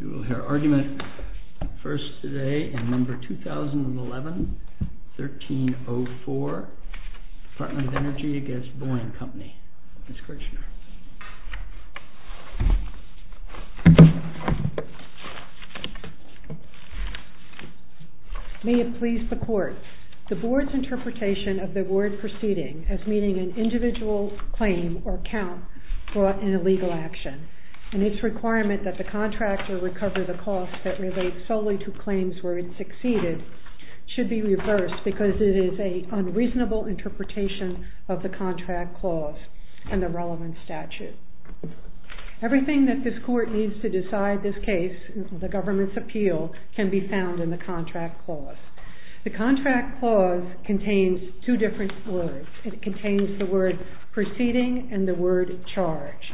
We will hear argument first today in No. 2011-1304, Department of Energy v. BOEING Company. Ms. Kirchner. May it please the Court, the Board's interpretation of the award proceeding as meeting an individual claim or count brought in a legal action, and its requirement that the contractor recover the cost that relates solely to claims where it succeeded should be reversed because it is an unreasonable interpretation of the contract clause and the relevant statute. Everything that this Court needs to decide this case, the government's appeal, can be found in the contract clause. The contract clause contains two different words. It contains the word proceeding and the word charge.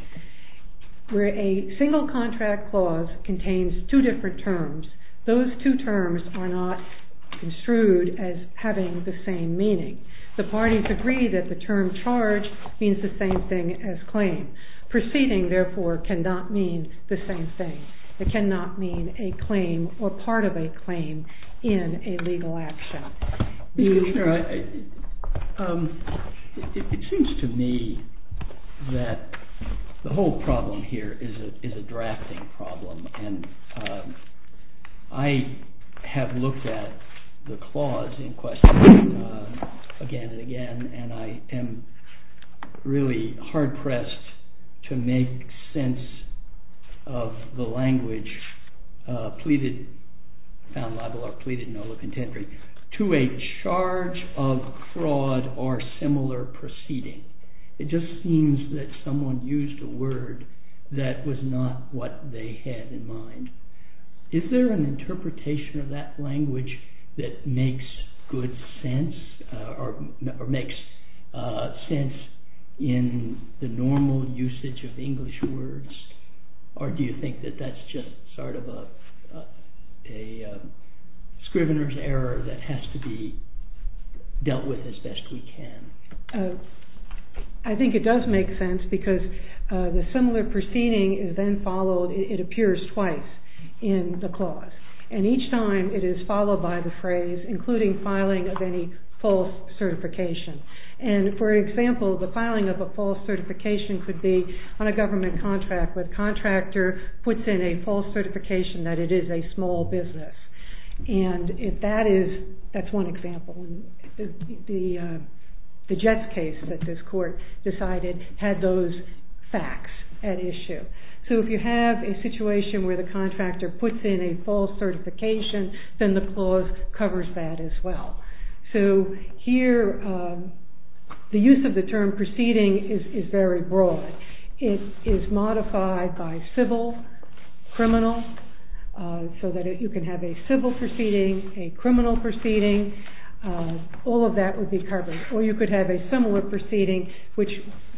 Where a single contract clause contains two different terms, those two terms are not construed as having the same meaning. The parties agree that the term charge means the same thing as claim. Proceeding, therefore, cannot mean the same thing. It cannot mean a claim or part of a claim in a legal action. Mr. Kirchner, it seems to me that the whole problem here is a drafting problem, and I have looked at the clause in question again and again, and I am really hard-pressed to make sense of the language pleaded found libel or pleaded no contendering to a charge of fraud or similar proceeding. It just seems that someone used a word that was not what they had in mind. Is there an interpretation of that language that makes good sense or makes sense in the normal usage of English words? Or do you think that that's just sort of a scrivener's error that has to be dealt with as best we can? I think it does make sense because the similar proceeding is then followed, it appears twice in the clause. And each time it is followed by the phrase, including filing of any false certification. And for example, the filing of a false certification could be on a government contract where the contractor puts in a false certification that it is a small business. And if that is, that's one example, the Jets case that this court decided had those facts at issue. So if you have a situation where the contractor puts in a false certification, then the clause covers that as well. So here, the use of the term proceeding is very broad. It is modified by civil, criminal, so that you can have a civil proceeding, a criminal proceeding, all of that would be covered. Or you could have a similar proceeding, which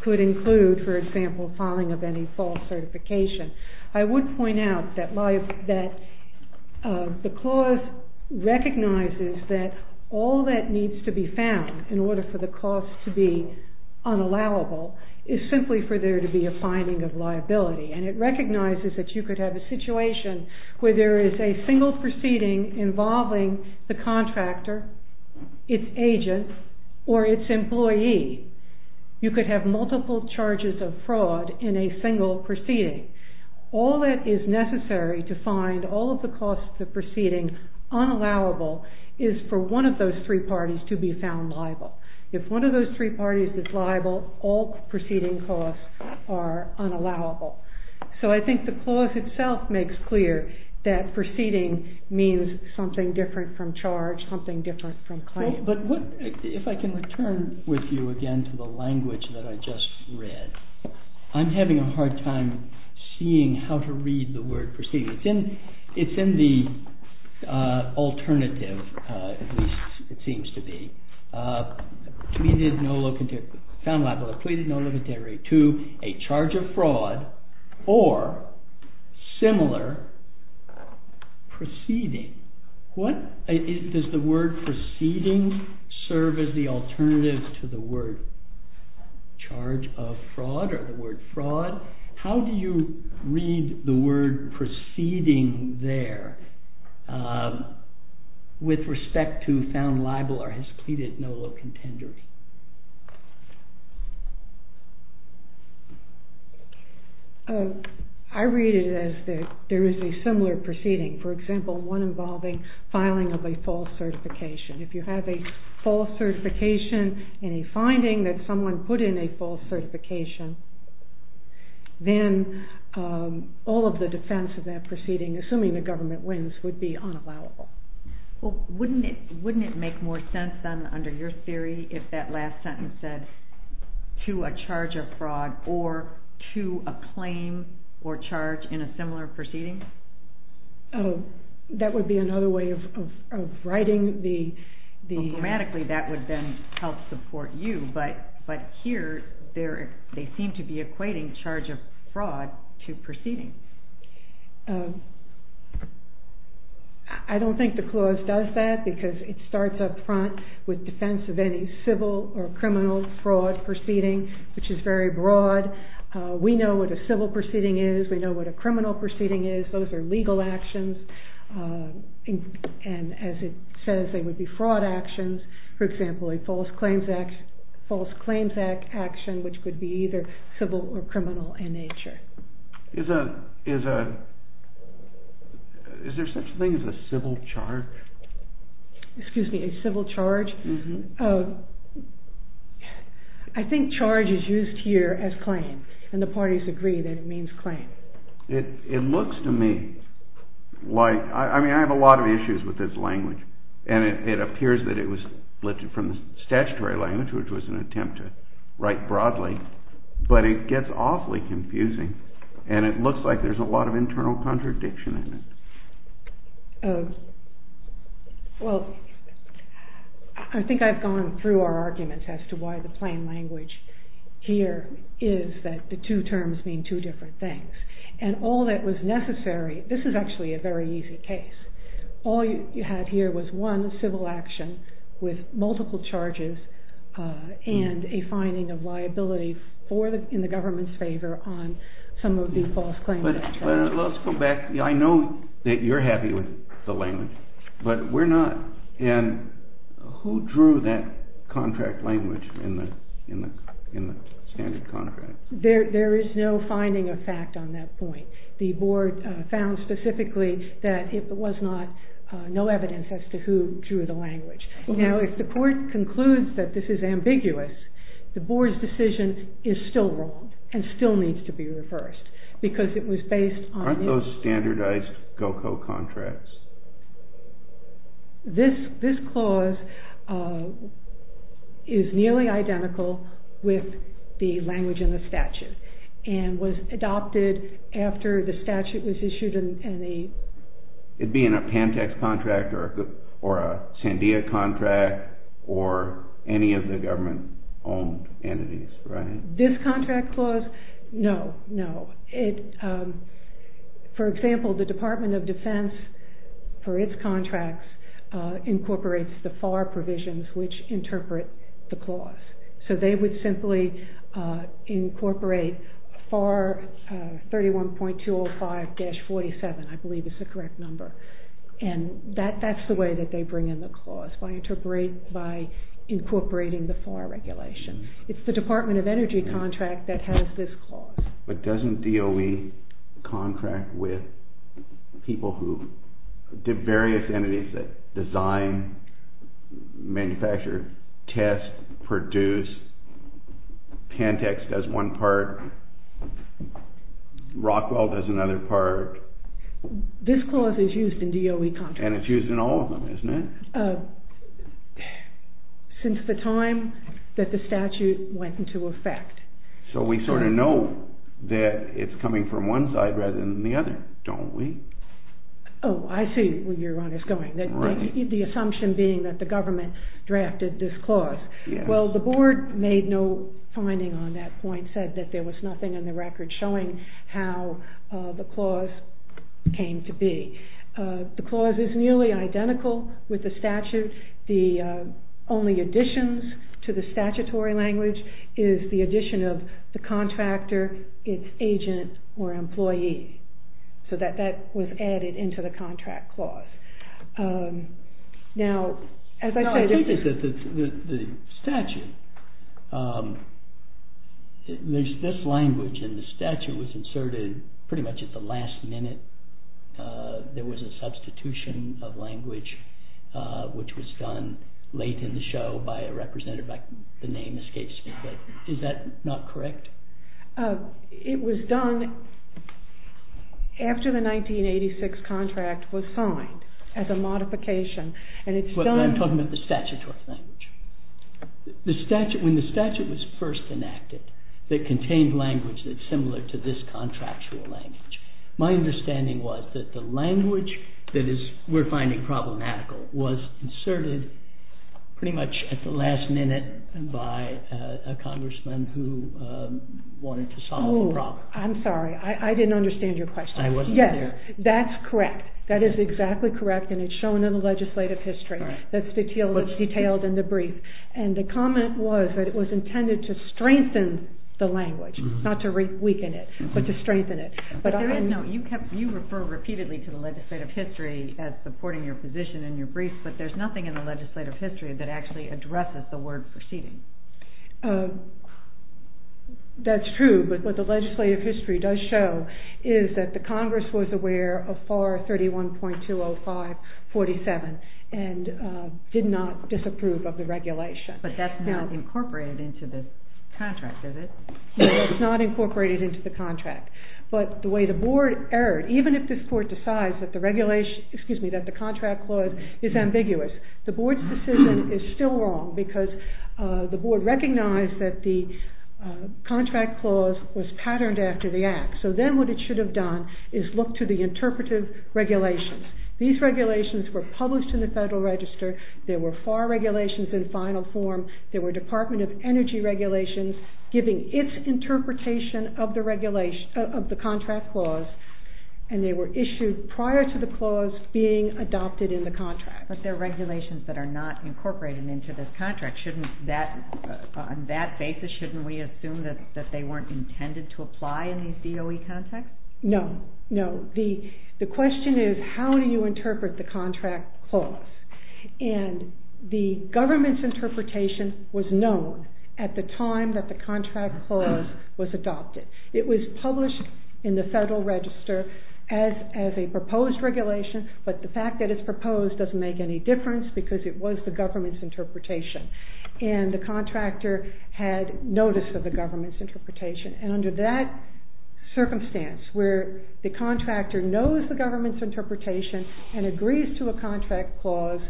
could include, for example, filing of any false certification. I would point out that the clause recognizes that all that needs to be found in order for the cost to be unallowable is simply for there to be a finding of liability. And it recognizes that you could have a situation where there is a single proceeding involving the contractor, its agent, or its employee. You could have multiple charges of fraud in a single proceeding. All that is necessary to find all of the costs of the proceeding unallowable is for one of those three parties to be found liable. If one of those three parties is liable, all are unallowable. So I think the clause itself makes clear that proceeding means something different from charge, something different from claim. But if I can return with you again to the language that I just read, I'm having a hard time seeing how to read the word proceeding. It's in the alternative, at least it seems to me, to a charge of fraud or similar proceeding. Does the word proceeding serve as the alternative to the word charge of fraud or the word fraud? How do you read the word proceeding there with respect to found liable or has pleaded no low contender? I read it as that there is a similar proceeding. For example, one involving filing of a false certification. If you have a false certification in a finding that someone put in a false assuming the government wins would be unallowable. Well, wouldn't it make more sense then under your theory if that last sentence said to a charge of fraud or to a claim or charge in a similar proceeding? That would be another way of writing the... Grammatically that would then help support you, but here they seem to be equating charge of fraud to proceeding. I don't think the clause does that because it starts up front with defense of any civil or criminal fraud proceeding, which is very broad. We know what a civil proceeding is. We know what a criminal proceeding is. Those are legal actions. And as it says, they would be fraud actions. For example, a false claims action, which could be either civil or criminal in that case. Is there such a thing as a civil charge? Excuse me, a civil charge? I think charge is used here as claim and the parties agree that it means claim. It looks to me like... I mean, I have a lot of issues with this language and it appears that it was lifted from the statutory language, which was an attempt to write broadly, but it gets awfully confusing and it looks like there's a lot of internal contradiction in it. Well, I think I've gone through our arguments as to why the plain language here is that the two terms mean two different things. And all that was necessary... This is actually a very easy case. All you had here was one civil action with multiple charges and a finding of liability in the government's favor on some of the false claims. But let's go back. I know that you're happy with the language, but we're not. And who drew that contract language in the standard contract? There is no finding of fact on that point. The board found specifically that it was no evidence as to who drew the language. Now, if the court concludes that this is ambiguous, the board's decision is still wrong and still needs to be reversed because it was based on... Aren't those standardized GOCO contracts? This clause is nearly identical with the language in the statute and was adopted after the statute was issued in the... It'd be in a Pantex contract or a Sandia contract or any of the government owned entities, right? This contract clause? No, no. For example, the Department of Defense, for its contracts, incorporates the FAR provisions which interpret the clause. So they would simply incorporate FAR 31.205-47, I believe is the correct number. And that's the way that they bring in the clause, by incorporating the FAR regulation. It's the Department of Energy contract that has this clause. But doesn't DOE contract with people who... Various entities that design, manufacture, test, produce. Pantex does one part. Rockwell does another part. This clause is used in DOE contracts. And it's used in all of them, isn't it? Since the time that the statute went into effect. So we sort of know that it's coming from one side rather than the other, don't we? Oh, I see where you're on this going. The assumption being that the government drafted this clause. Well, the board made no finding on that point, said that there was nothing in the record showing how the clause came to be. The clause is nearly identical with the statute. The only additions to the statutory language is the addition of the contractor, its agent, or employee. So that was added into the contract clause. Now, as I said... No, I think it's the statute. There's this language, and the statute was inserted pretty much at the last minute. There was a substitution of language, which was done late in the show by a representative. The name escapes me, but is that not correct? It was done after the 1986 contract was signed, as a modification. And it's done... I'm talking about the statutory language. The statute... When the statute was first enacted, it contained language that's similar to this contractual language. My understanding was that the language that we're finding problematical was inserted pretty much at the last minute by a congressman who wanted to solve the problem. Oh, I'm sorry. I didn't understand your question. I wasn't there. Yes, that's correct. That is exactly correct, and it's shown in the legislative history. That's detailed in the brief. And the comment was that it was intended to strengthen the language, not to weaken it, but to strengthen it. But there is... No, you refer repeatedly to the legislative history as supporting your position in your brief, but there's nothing in the legislative history that actually addresses the word proceeding. That's true, but what the legislative history does show is that the Congress was aware of FAR 31.20547 and did not disapprove of the regulation. But that's not incorporated into the contract, is it? No, it's not incorporated into the contract. But the way the board erred, even if this court decides that the regulation... Excuse me, that the contract clause is ambiguous, the board's decision is still wrong because the board recognized that the contract clause was patterned after the act. So then what it should have done is look to the interpretive regulations. These regulations were published in the Federal Register, there were FAR regulations in final form, there were Department of Energy regulations giving its interpretation of the contract clause, and they were issued prior to the clause being adopted in the contract. But there are regulations that are not incorporated into this contract. On that basis, shouldn't we assume that they weren't intended to apply in these DOE contexts? No, no. The question is, how do you interpret the contract clause? And the government's interpretation was known at the time that the contract clause was adopted. It was published in the Federal Register as a proposed regulation, but the fact that it's proposed doesn't make any difference because it was the government's interpretation. And under that circumstance, where the contractor knows the government's interpretation and agrees to a contract clause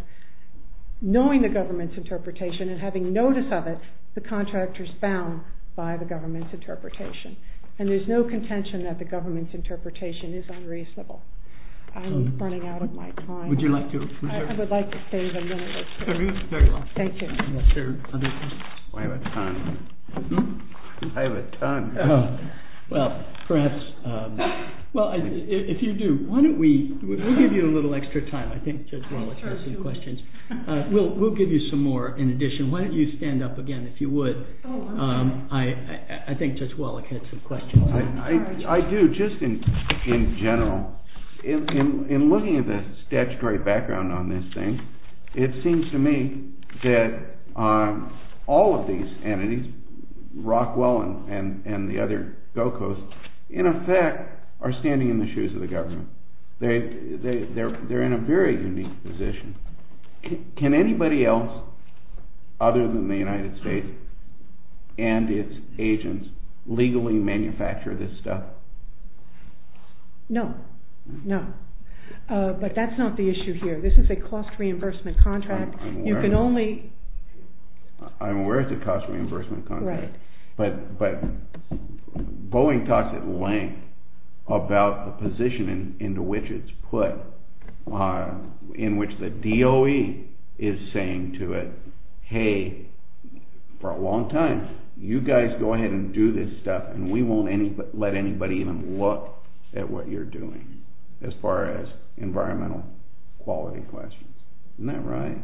knowing the government's interpretation and having notice of it, the contractor's bound by the government's interpretation. And there's no contention that the government's interpretation is unreasonable. I'm running out of my time. Would you like to... I would like to save a minute. Very well. Thank you. I have a ton. I have a ton. Well, perhaps... Well, if you do, why don't we... We'll give you a little extra time. I think Judge Wallach has some questions. We'll give you some more in addition. Why don't you stand up again if you would? I think Judge Wallach had some questions. I do, just in general. In looking at the statutory background on this thing, it seems to me that all of these entities, Rockwell and the other GOCOs, in effect, are standing in the shoes of the government. They're in a very unique position. Can anybody else, other than the United States and its agents, legally manufacture this stuff? No. No. But that's not the issue here. This is a cost reimbursement contract. You can only... I'm aware it's a cost reimbursement contract. Right. But Boeing talks at length about the position into which it's put, in which the DOE is saying to it, hey, for a long time, you guys go ahead and do this stuff and we won't let anybody even look at what you're doing as far as environmental quality questions. Isn't that right?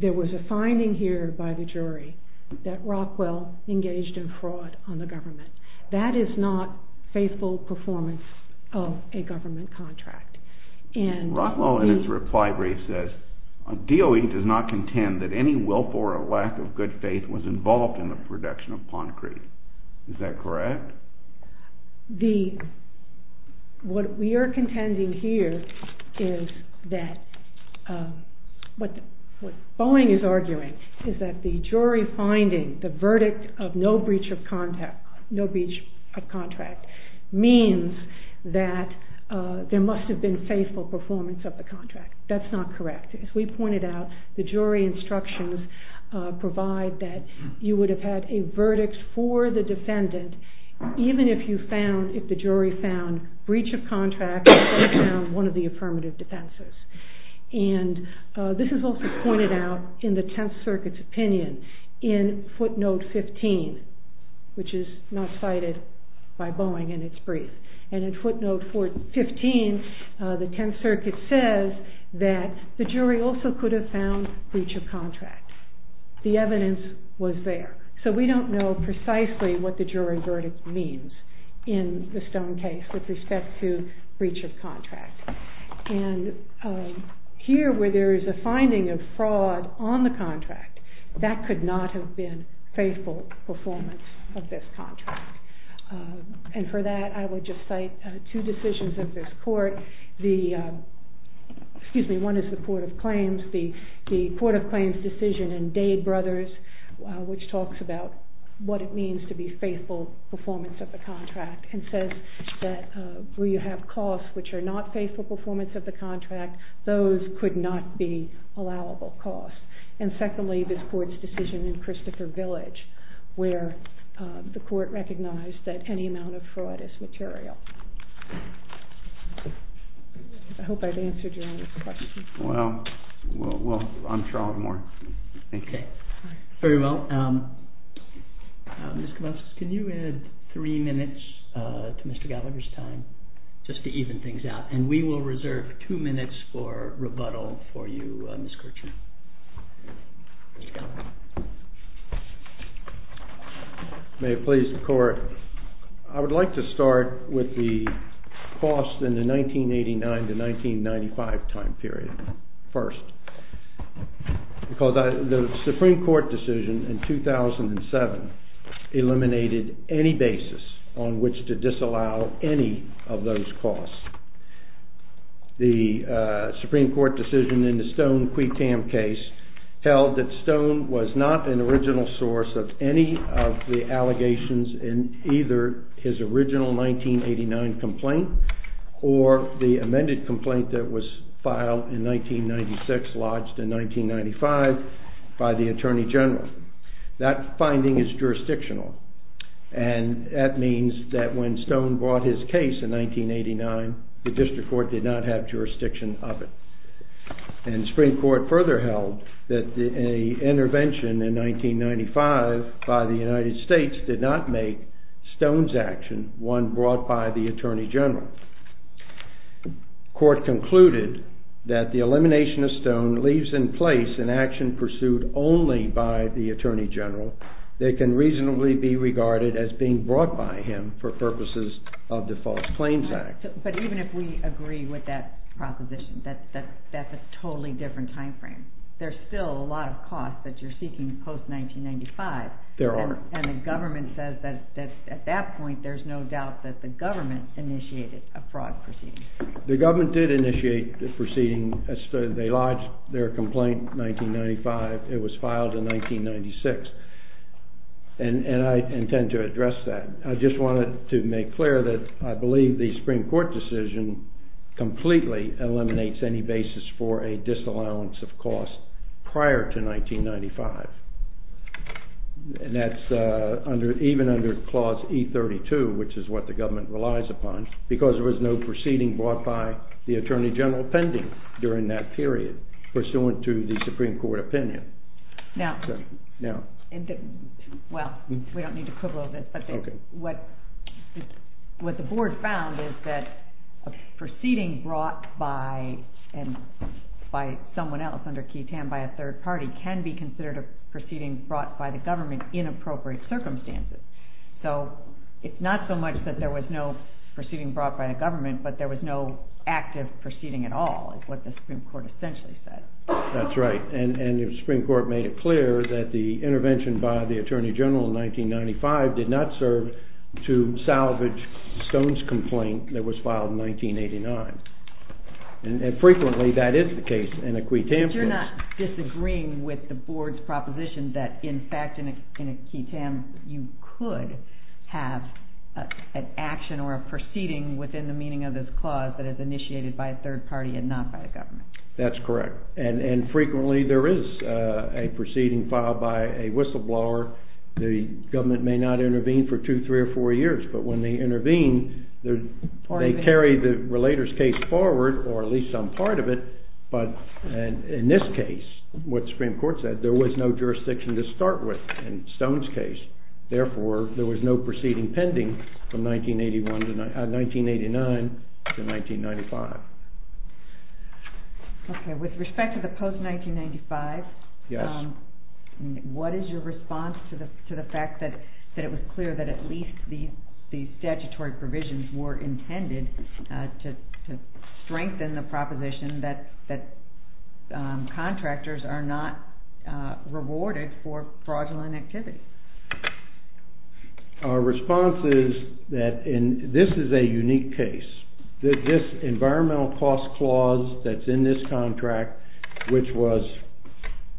There was a finding here by the jury that Rockwell engaged in fraud on the government. That is not faithful performance of a government contract. And... Rockwell, in his reply brief, says, DOE does not contend that any willful or lack of good faith was involved in the production of concrete. Is that correct? What we are contending here is that... What Boeing is arguing is that the jury finding the verdict of no breach of contract means that there must have been faithful performance of the contract. That's not correct. As we pointed out, the jury instructions provide that you would have had a verdict for the defendant, even if you found, if the jury found breach of contract or found one of the affirmative defenses. And this is also pointed out in the Tenth Circuit's opinion in footnote 15, which is not cited by Boeing in its brief. And in footnote 15, the Tenth Circuit says that the jury also could have found breach of contract. The evidence was there. So we don't know precisely what the jury verdict means in the Stone case with respect to breach of contract. And here, where there is a finding of fraud on the contract, that could not have been faithful performance of this contract. And for that, I would just cite two decisions of this court. The... Excuse me, one is the Court of Claims. The Court of Claims decision in Dade Brothers, which talks about what it means to be faithful performance of the contract, and says that where you have costs which are not faithful performance of the contract, those could not be allowable costs. And secondly, this court's decision in Christopher Village, where the court recognized that any amount of fraud is material. I hope I've answered your question. Well, I'm Charles Moore. Thank you. Okay. Very well. Ms. Kovacs, can you add three minutes to Mr. Gallagher's time, just to even things out? And we will reserve two minutes for rebuttal for you, Ms. Kirchner. May it please the court. I would like to start with the cost in the 1989 to 1995 time period first. Because the Supreme Court decision in 2007 eliminated any basis on which to disallow any of those costs. The Supreme Court decision in the Stone-Quaytam case held that Stone was not an original source of any of the allegations in either his original 1989 complaint or the amended complaint that was filed in 1996, lodged in 1995 by the Attorney General. That finding is jurisdictional. And that means that when Stone brought his case in 1989, the district court did not have jurisdiction of it. And the Supreme Court further held that an intervention in 1995 by the United States did not make Stone's action one brought by the Attorney General. Court concluded that the elimination of Stone leaves in place an action pursued only by the Attorney General that can reasonably be regarded as being brought by him for purposes of the False Claims Act. But even if we agree with that proposition, that's a totally different time frame. There's still a lot of costs that you're seeking post-1995. There are. And the government says that at that point, there's no doubt that the government initiated a fraud proceeding. The government did initiate the proceeding. They lodged their complaint in 1995. It was filed in 1996. And I intend to address that. I just wanted to make clear that I believe the Supreme Court decision completely eliminates any basis for a disallowance of cost prior to 1995. And that's even under Clause E32, which is what the government relies upon, because there was no proceeding brought by the Attorney General pending during that period, pursuant to the Supreme Court opinion. Now, well, we can't say that, but what the board found is that a proceeding brought by someone else under Key Tan by a third party can be considered a proceeding brought by the government in appropriate circumstances. So it's not so much that there was no proceeding brought by the government, but there was no active proceeding at all, is what the Supreme Court essentially said. That's right. And the Supreme Court made it clear that the intervention by the government did not serve to salvage Stone's complaint that was filed in 1989. And frequently, that is the case in a Key Tan case. But you're not disagreeing with the board's proposition that, in fact, in a Key Tan, you could have an action or a proceeding within the meaning of this clause that is initiated by a third party and not by the government. That's correct. And frequently, there is a proceeding filed by a whistleblower. The government may not intervene for two, three, or four years, but when they intervene, they carry the relator's case forward, or at least some part of it. But in this case, what the Supreme Court said, there was no jurisdiction to start with in Stone's case. Therefore, there was no proceeding pending from 1989 to 1995. Okay. With respect to the post 1995, what is your response to the Supreme Court's claim that it was clear that at least the statutory provisions were intended to strengthen the proposition that contractors are not rewarded for fraudulent activity? Our response is that in... This is a unique case. This environmental cost clause that's in this contract, which was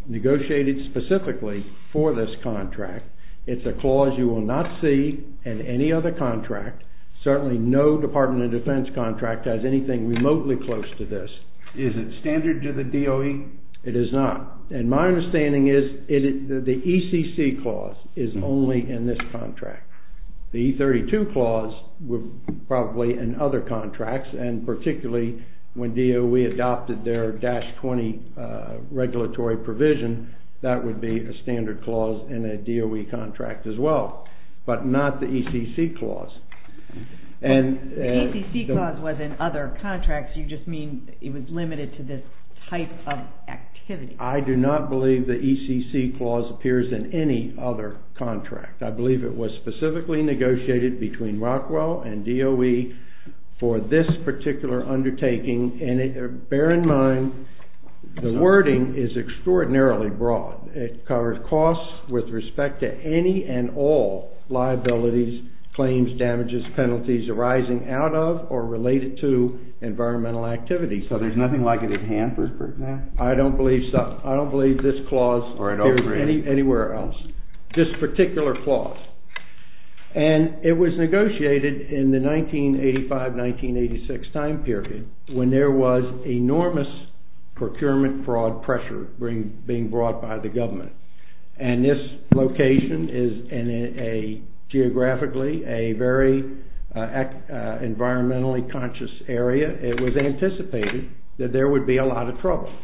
negotiated specifically for this contract, it's a clause you will not see in any other contract. Certainly, no Department of Defense contract has anything remotely close to this. Is it standard to the DOE? It is not. And my understanding is the ECC clause is only in this contract. The E32 clause were probably in other contracts, and particularly when DOE adopted their dash 20 regulatory provision, that would be a standard clause in a DOE contract as well, but not the ECC clause. And... The ECC clause was in other contracts, you just mean it was limited to this type of activity? I do not believe the ECC clause appears in any other contract. I believe it was specifically negotiated between Rockwell and DOE for this particular undertaking. And bear in mind, the wording is extraordinarily broad. It covers costs with respect to any and all liabilities, claims, damages, penalties arising out of or related to environmental activity. So there's nothing like it at hand for... I don't believe so. I don't believe this clause... Or at all, really. Appears anywhere else. This particular clause. And it was negotiated in the 1985, 1986 time period, when there was enormous procurement fraud pressure being brought by the government. And this location is in a... Geographically, a very environmentally conscious area. It was anticipated that there would be a lot of trouble.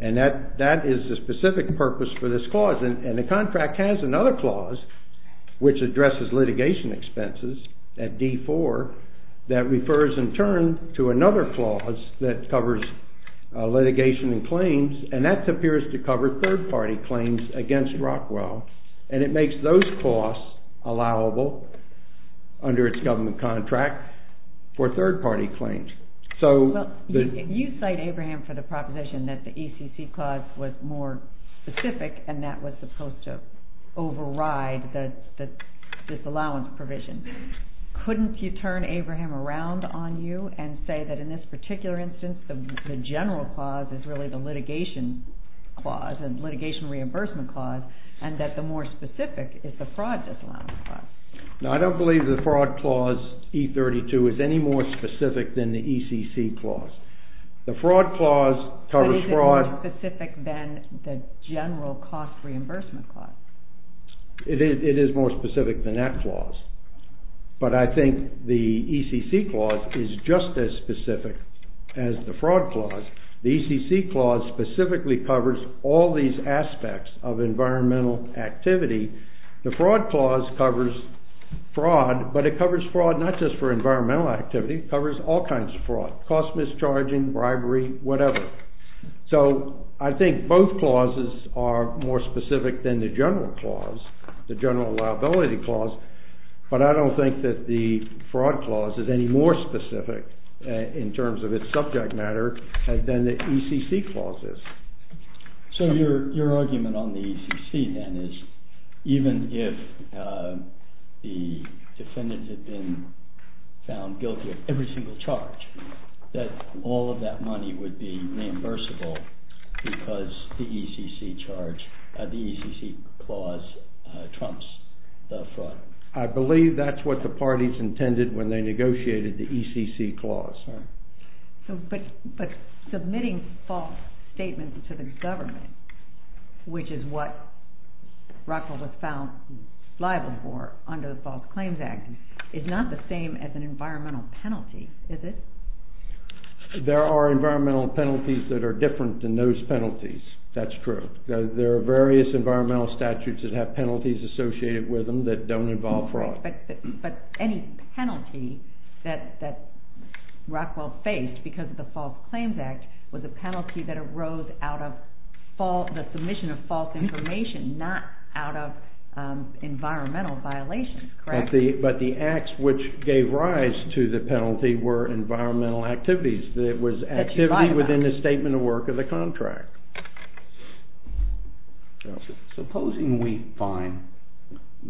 And that is the specific purpose for this clause. And the contract has another clause, which addresses litigation expenses at D4, that refers in turn to another clause that covers litigation and claims. And that appears to cover third party claims against Rockwell. And it makes those costs allowable under its government contract for third party claims. So... Well, you cite Abraham for the proposition that the ECC clause was more specific, and that was supposed to override this allowance provision. Couldn't you turn Abraham around on you and say that in this particular instance, the general clause is really the litigation clause, and litigation reimbursement clause, and that the more specific is the fraud disallowance clause? No, I don't believe the fraud clause, E32, is any more specific than the ECC clause. The fraud clause covers fraud... But is it more specific than the general cost reimbursement clause? It is more specific than that clause. But I think the ECC clause is just as specific as the fraud clause. The ECC clause specifically covers all these aspects of environmental activity. The fraud clause covers fraud, but it covers fraud not just for environmental activity, it covers all kinds of fraud, cost mischarging, bribery, whatever. So, I think both clauses are more specific than the general clause, the ECC clause. I don't think that the fraud clause is any more specific in terms of its subject matter than the ECC clause is. So, your argument on the ECC then is, even if the defendants had been found guilty of every single charge, that all of that money would be reimbursable because the ECC charge, trumps the fraud. I believe that's what the parties intended when they negotiated the ECC clause. But submitting false statements to the government, which is what Rockwell was found liable for under the False Claims Act, is not the same as an environmental penalty, is it? There are environmental penalties that are different than those penalties, that's true. There are various environmental statutes that have penalties associated with them that don't involve fraud. But any penalty that Rockwell faced because of the False Claims Act was a penalty that arose out of the submission of false information, not out of environmental violations, correct? But the acts which gave rise to the penalty were environmental activities. It was activity within the statement of work of the contract. Supposing we find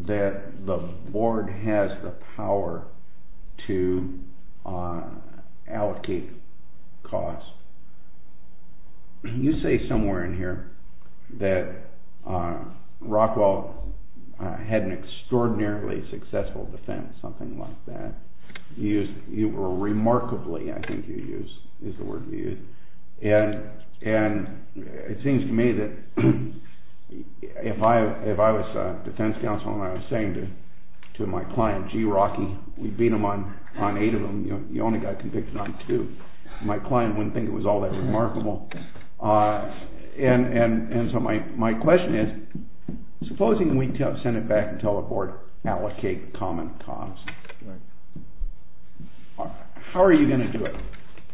that the board has the power to allocate costs. You say somewhere in here that Rockwell had an extraordinarily successful defense, something like that. You were remarkably, I think you use, is the term, and it seems to me that if I was a defense counsel and I was saying to my client, gee Rocky, we beat him on eight of them, you only got convicted on two. My client wouldn't think it was all that remarkable. And so my question is, supposing we send it back and tell the board, allocate common costs, how are you going to do it?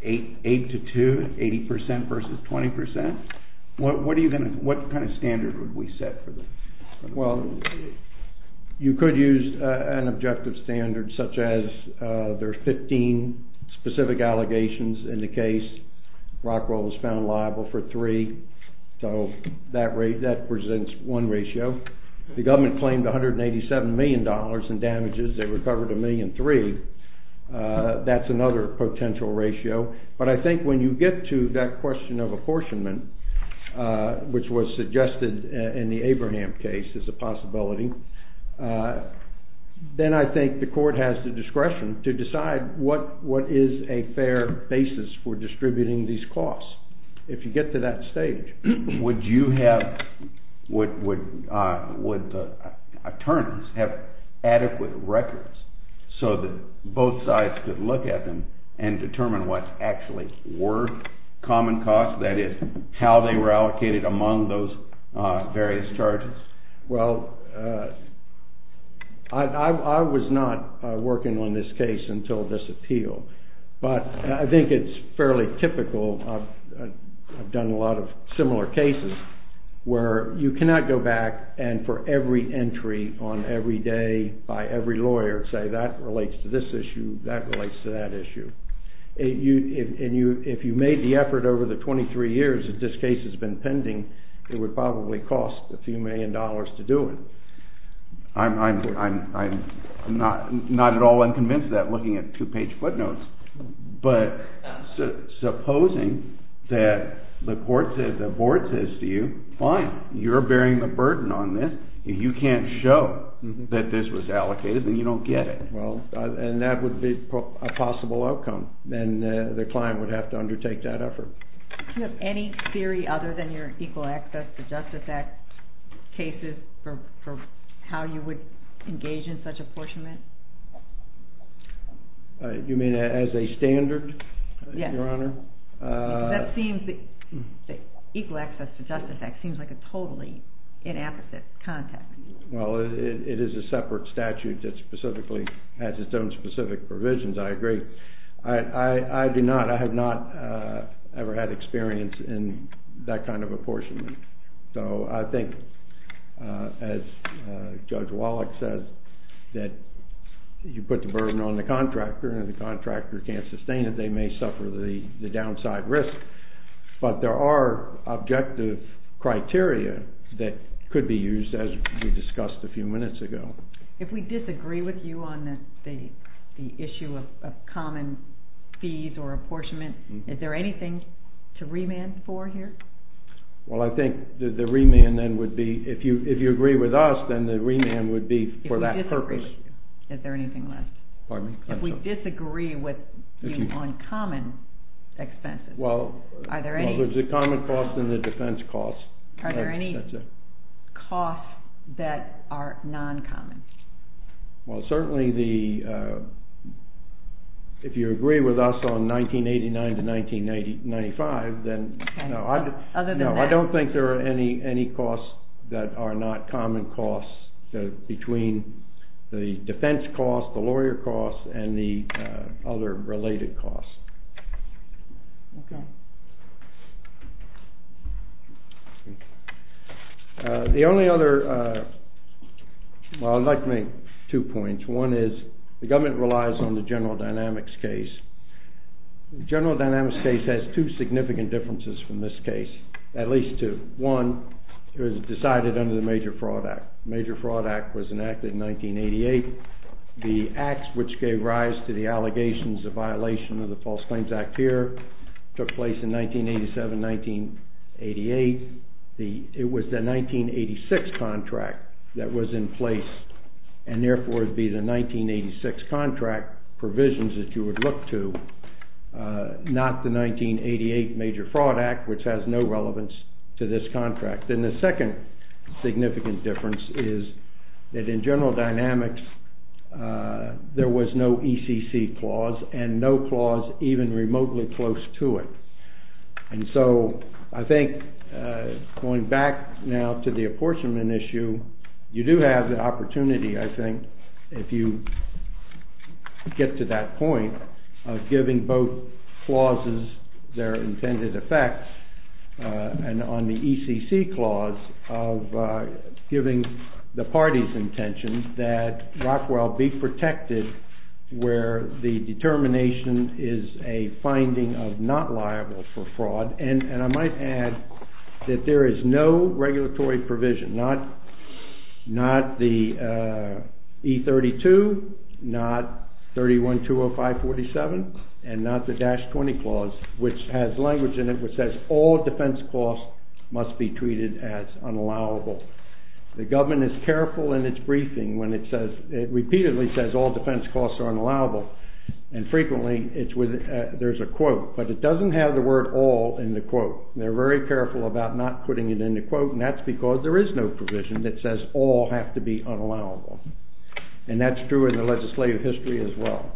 Eight to two, 80% versus 20%? What kind of standard would we set for them? Well, you could use an objective standard such as there are 15 specific allegations in the case. Rockwell was found liable for three, so that presents one ratio. The government claimed 187 million dollars in damages, they recovered a million three, that's another potential ratio. But I think when you get to that question of apportionment, which was suggested in the Abraham case as a possibility, then I think the court has the discretion to decide what is a fair basis for distributing these costs. If you get to that stage, would you have, would the attorneys have adequate records so that both sides could look at them and determine what actually were common costs, that is, how they were allocated among those various charges? Well, I was not working on this case until this appeal, but I think it's fairly typical, I've done a lot of similar cases, where you cannot go back and for every entry on every day by every lawyer say that relates to this issue, that relates to that issue. If you made the effort over the 23 years that this case has been pending, it would probably cost a few million dollars to do it. I'm not at all unconvinced of that, looking at two-page footnotes. But supposing that the court says, the board says to you, fine, you're bearing the burden on this, if you can't show that this was allocated, then you don't get it. Well, and that would be a possible outcome, then the client would have to undertake that effort. Do you have any theory other than your Equal Access to Justice Act cases for how you would engage in such apportionment? You mean as a standard, Your Honor? Yes. That seems, the Equal Access to Justice Act seems like a totally inappropriate context. Well, it is a separate statute that specifically has its own specific provisions, I agree. I do not, I have not ever had experience in that kind of apportionment. So I think, as Judge Wallach says, that you put the burden on the contractor, and if the contractor can't sustain it, they may suffer the downside risk. But there are objective criteria that could be used, as we discussed a few minutes ago. If we disagree with you on the issue of common fees or apportionment, is there anything to remand for here? Well, I think the remand then would be, if you agree with us, then the remand would be for that purpose. If we disagree with you, is there anything left? Pardon me? If we disagree with you on common expenses, are there any? Well, if it's a common cost, then the defense costs. Are there any costs that are non-common? Well, certainly the, if you agree with us on 1989 to 1995, then no. Other than that? No, I don't think there are any costs that are not common costs between the defense costs, the lawyer costs, and the other related costs. The only other, well, I'd like to make two points. One is, the government relies on the general dynamics case. The general dynamics case has two significant differences from this case, at least two. One, it was decided under the Major Fraud Act. The Major Fraud Act was enacted in 1988. The acts which gave rise to the allegations of violation of the False Claims Act here, took place in 1987-1988. It was the 1986 contract that was in place, and therefore it would be the 1986 contract provisions that you would look to, not the 1988 Major Fraud Act, which has no relevance to this contract. And the second significant difference is that in general dynamics, there was no ECC clause, and no clause even remotely close to it. And so, I think, going back now to the apportionment issue, you do have the opportunity, I think, if you get to that point, of giving both clauses their intended effects, and on the ECC clause, of giving the parties' intention that Rockwell be protected where the determination is a finding of not liable for fraud. And I might add that there is no regulatory provision, not the E32, not 31-205-47, and not the all defense costs must be treated as unallowable. The government is careful in its briefing when it says, it repeatedly says all defense costs are unallowable, and frequently there's a quote, but it doesn't have the word all in the quote. They're very careful about not putting it in the quote, and that's because there is no provision that says all have to be unallowable. And that's true in the legislative history as well.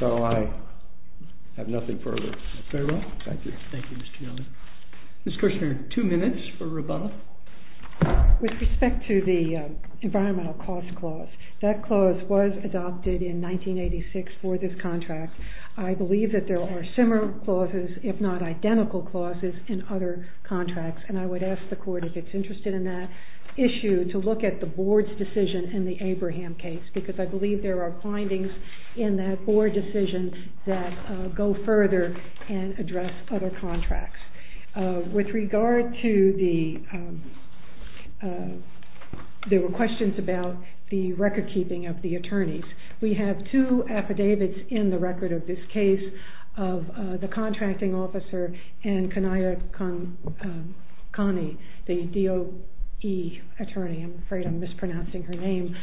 So, I have nothing further. Very well. Thank you. Thank you, Mr. Youngman. Ms. Kirshner, two minutes for rebuttal. With respect to the environmental cost clause, that clause was adopted in 1986 for this contract. I believe that there are similar clauses, if not identical clauses, in other contracts, and I would ask the court, if it's interested in that issue, to look at the board's decision in the Abraham case, because I believe there are findings in that board decision that go further than that, and address other contracts. With regard to the, there were questions about the record keeping of the attorneys. We have two affidavits in the record of this case of the contracting officer and Kanaya Kani, the DOE attorney, I'm afraid I'm mispronouncing her name,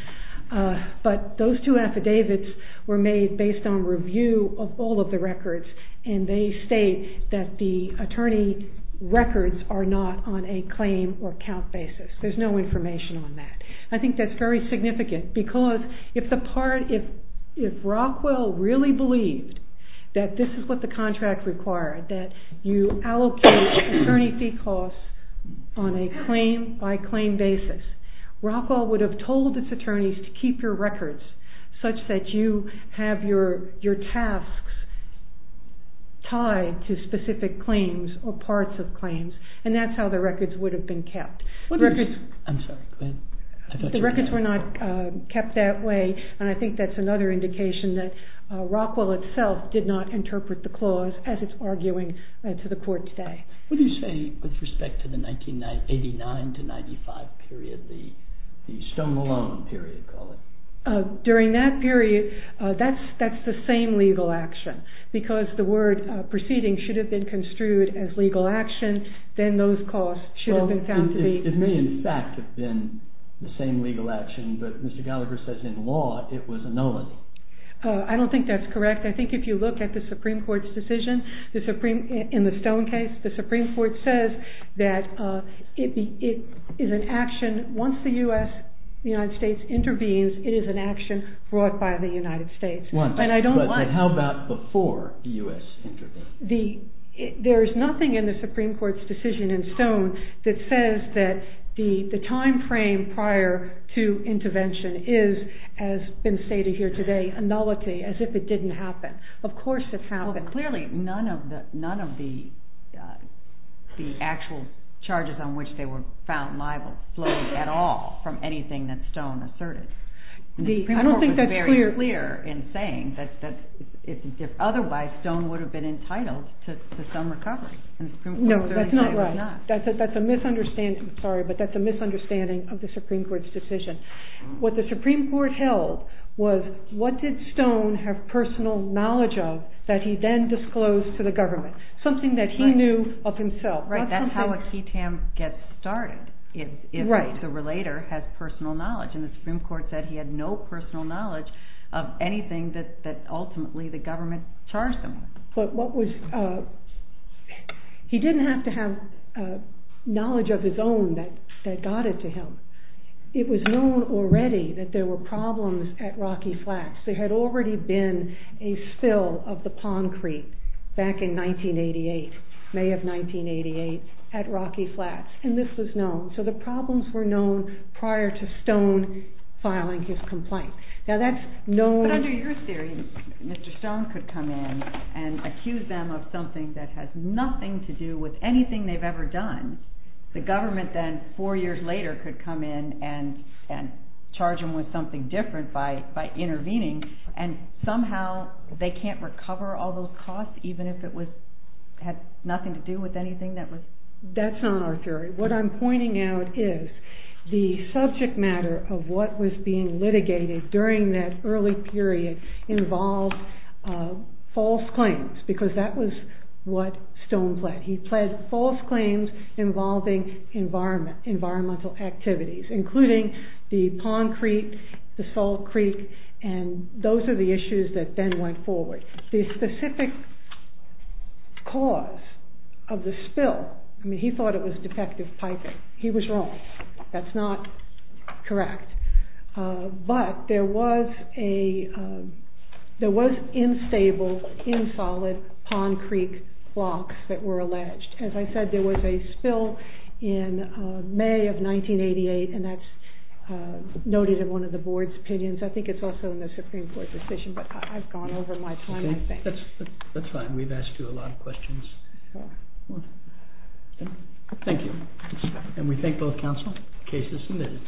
but those two affidavits were made based on review of all of the records, and they state that the attorney records are not on a claim or count basis. There's no information on that. I think that's very significant, because if the part, if Rockwell really believed that this is what the contract required, that you allocate attorney fee costs on a claim by claim basis, Rockwell would have told its attorneys to keep your records such that you have your tasks tied to specific claims or parts of claims, and that's how the records would have been kept. The records were not kept that way, and I think that's another indication that Rockwell itself did not interpret the clause as it's arguing to the court today. What do you say with respect to the 1989 to 1995 period, the Stone-Malone period, call it? During that period, that's the same legal action, because the word proceeding should have been construed as legal action, then those costs should have been found to be... Supreme Court says that it is an action, once the U.S., the United States intervenes, it is an action brought by the United States. And I don't... But how about before the U.S. intervened? There's nothing in the Supreme Court's decision in Stone that says that the time frame prior to intervention is, as has been stated here today, a nullity, as if it didn't happen. Of course it's happened. Clearly, none of the actual charges on which they were found liable flowed at all from anything that Stone asserted. I don't think that's clear. The Supreme Court was very clear in saying that otherwise Stone would have been entitled to some recovery. No, that's not right. That's a misunderstanding of the Supreme Court's decision. What the Supreme Court held was, what did Stone have personal knowledge of that he then disclosed to the government? Something that he knew of himself. Right, that's how a CTAM gets started, if the relator has personal knowledge. And the Supreme Court said he had no personal knowledge of anything that ultimately the government charged him with. But what was... He didn't have to have knowledge of his own that got it to him. It was known already that there were problems at Rocky Flats. There had already been a spill of the concrete back in 1988, May of 1988, at Rocky Flats. And this was known. So the problems were known prior to Stone filing his complaint. Now that's known... Mr. Stone could come in and accuse them of something that has nothing to do with anything they've ever done. The government then, four years later, could come in and charge them with something different by intervening. And somehow they can't recover all those costs, even if it had nothing to do with anything that was... false claims, because that was what Stone pled. He pled false claims involving environmental activities, including the concrete, the salt creek, and those are the issues that then went forward. The specific cause of the spill, I mean, he thought it was defective piping. He was wrong. That's not correct. But there was instable, insolid pond creek blocks that were alleged. As I said, there was a spill in May of 1988, and that's noted in one of the board's opinions. I think it's also in the Supreme Court decision, but I've gone over my time, I think. That's fine. We've asked you a lot of questions. Thank you. And we thank both counsel. Case is submitted.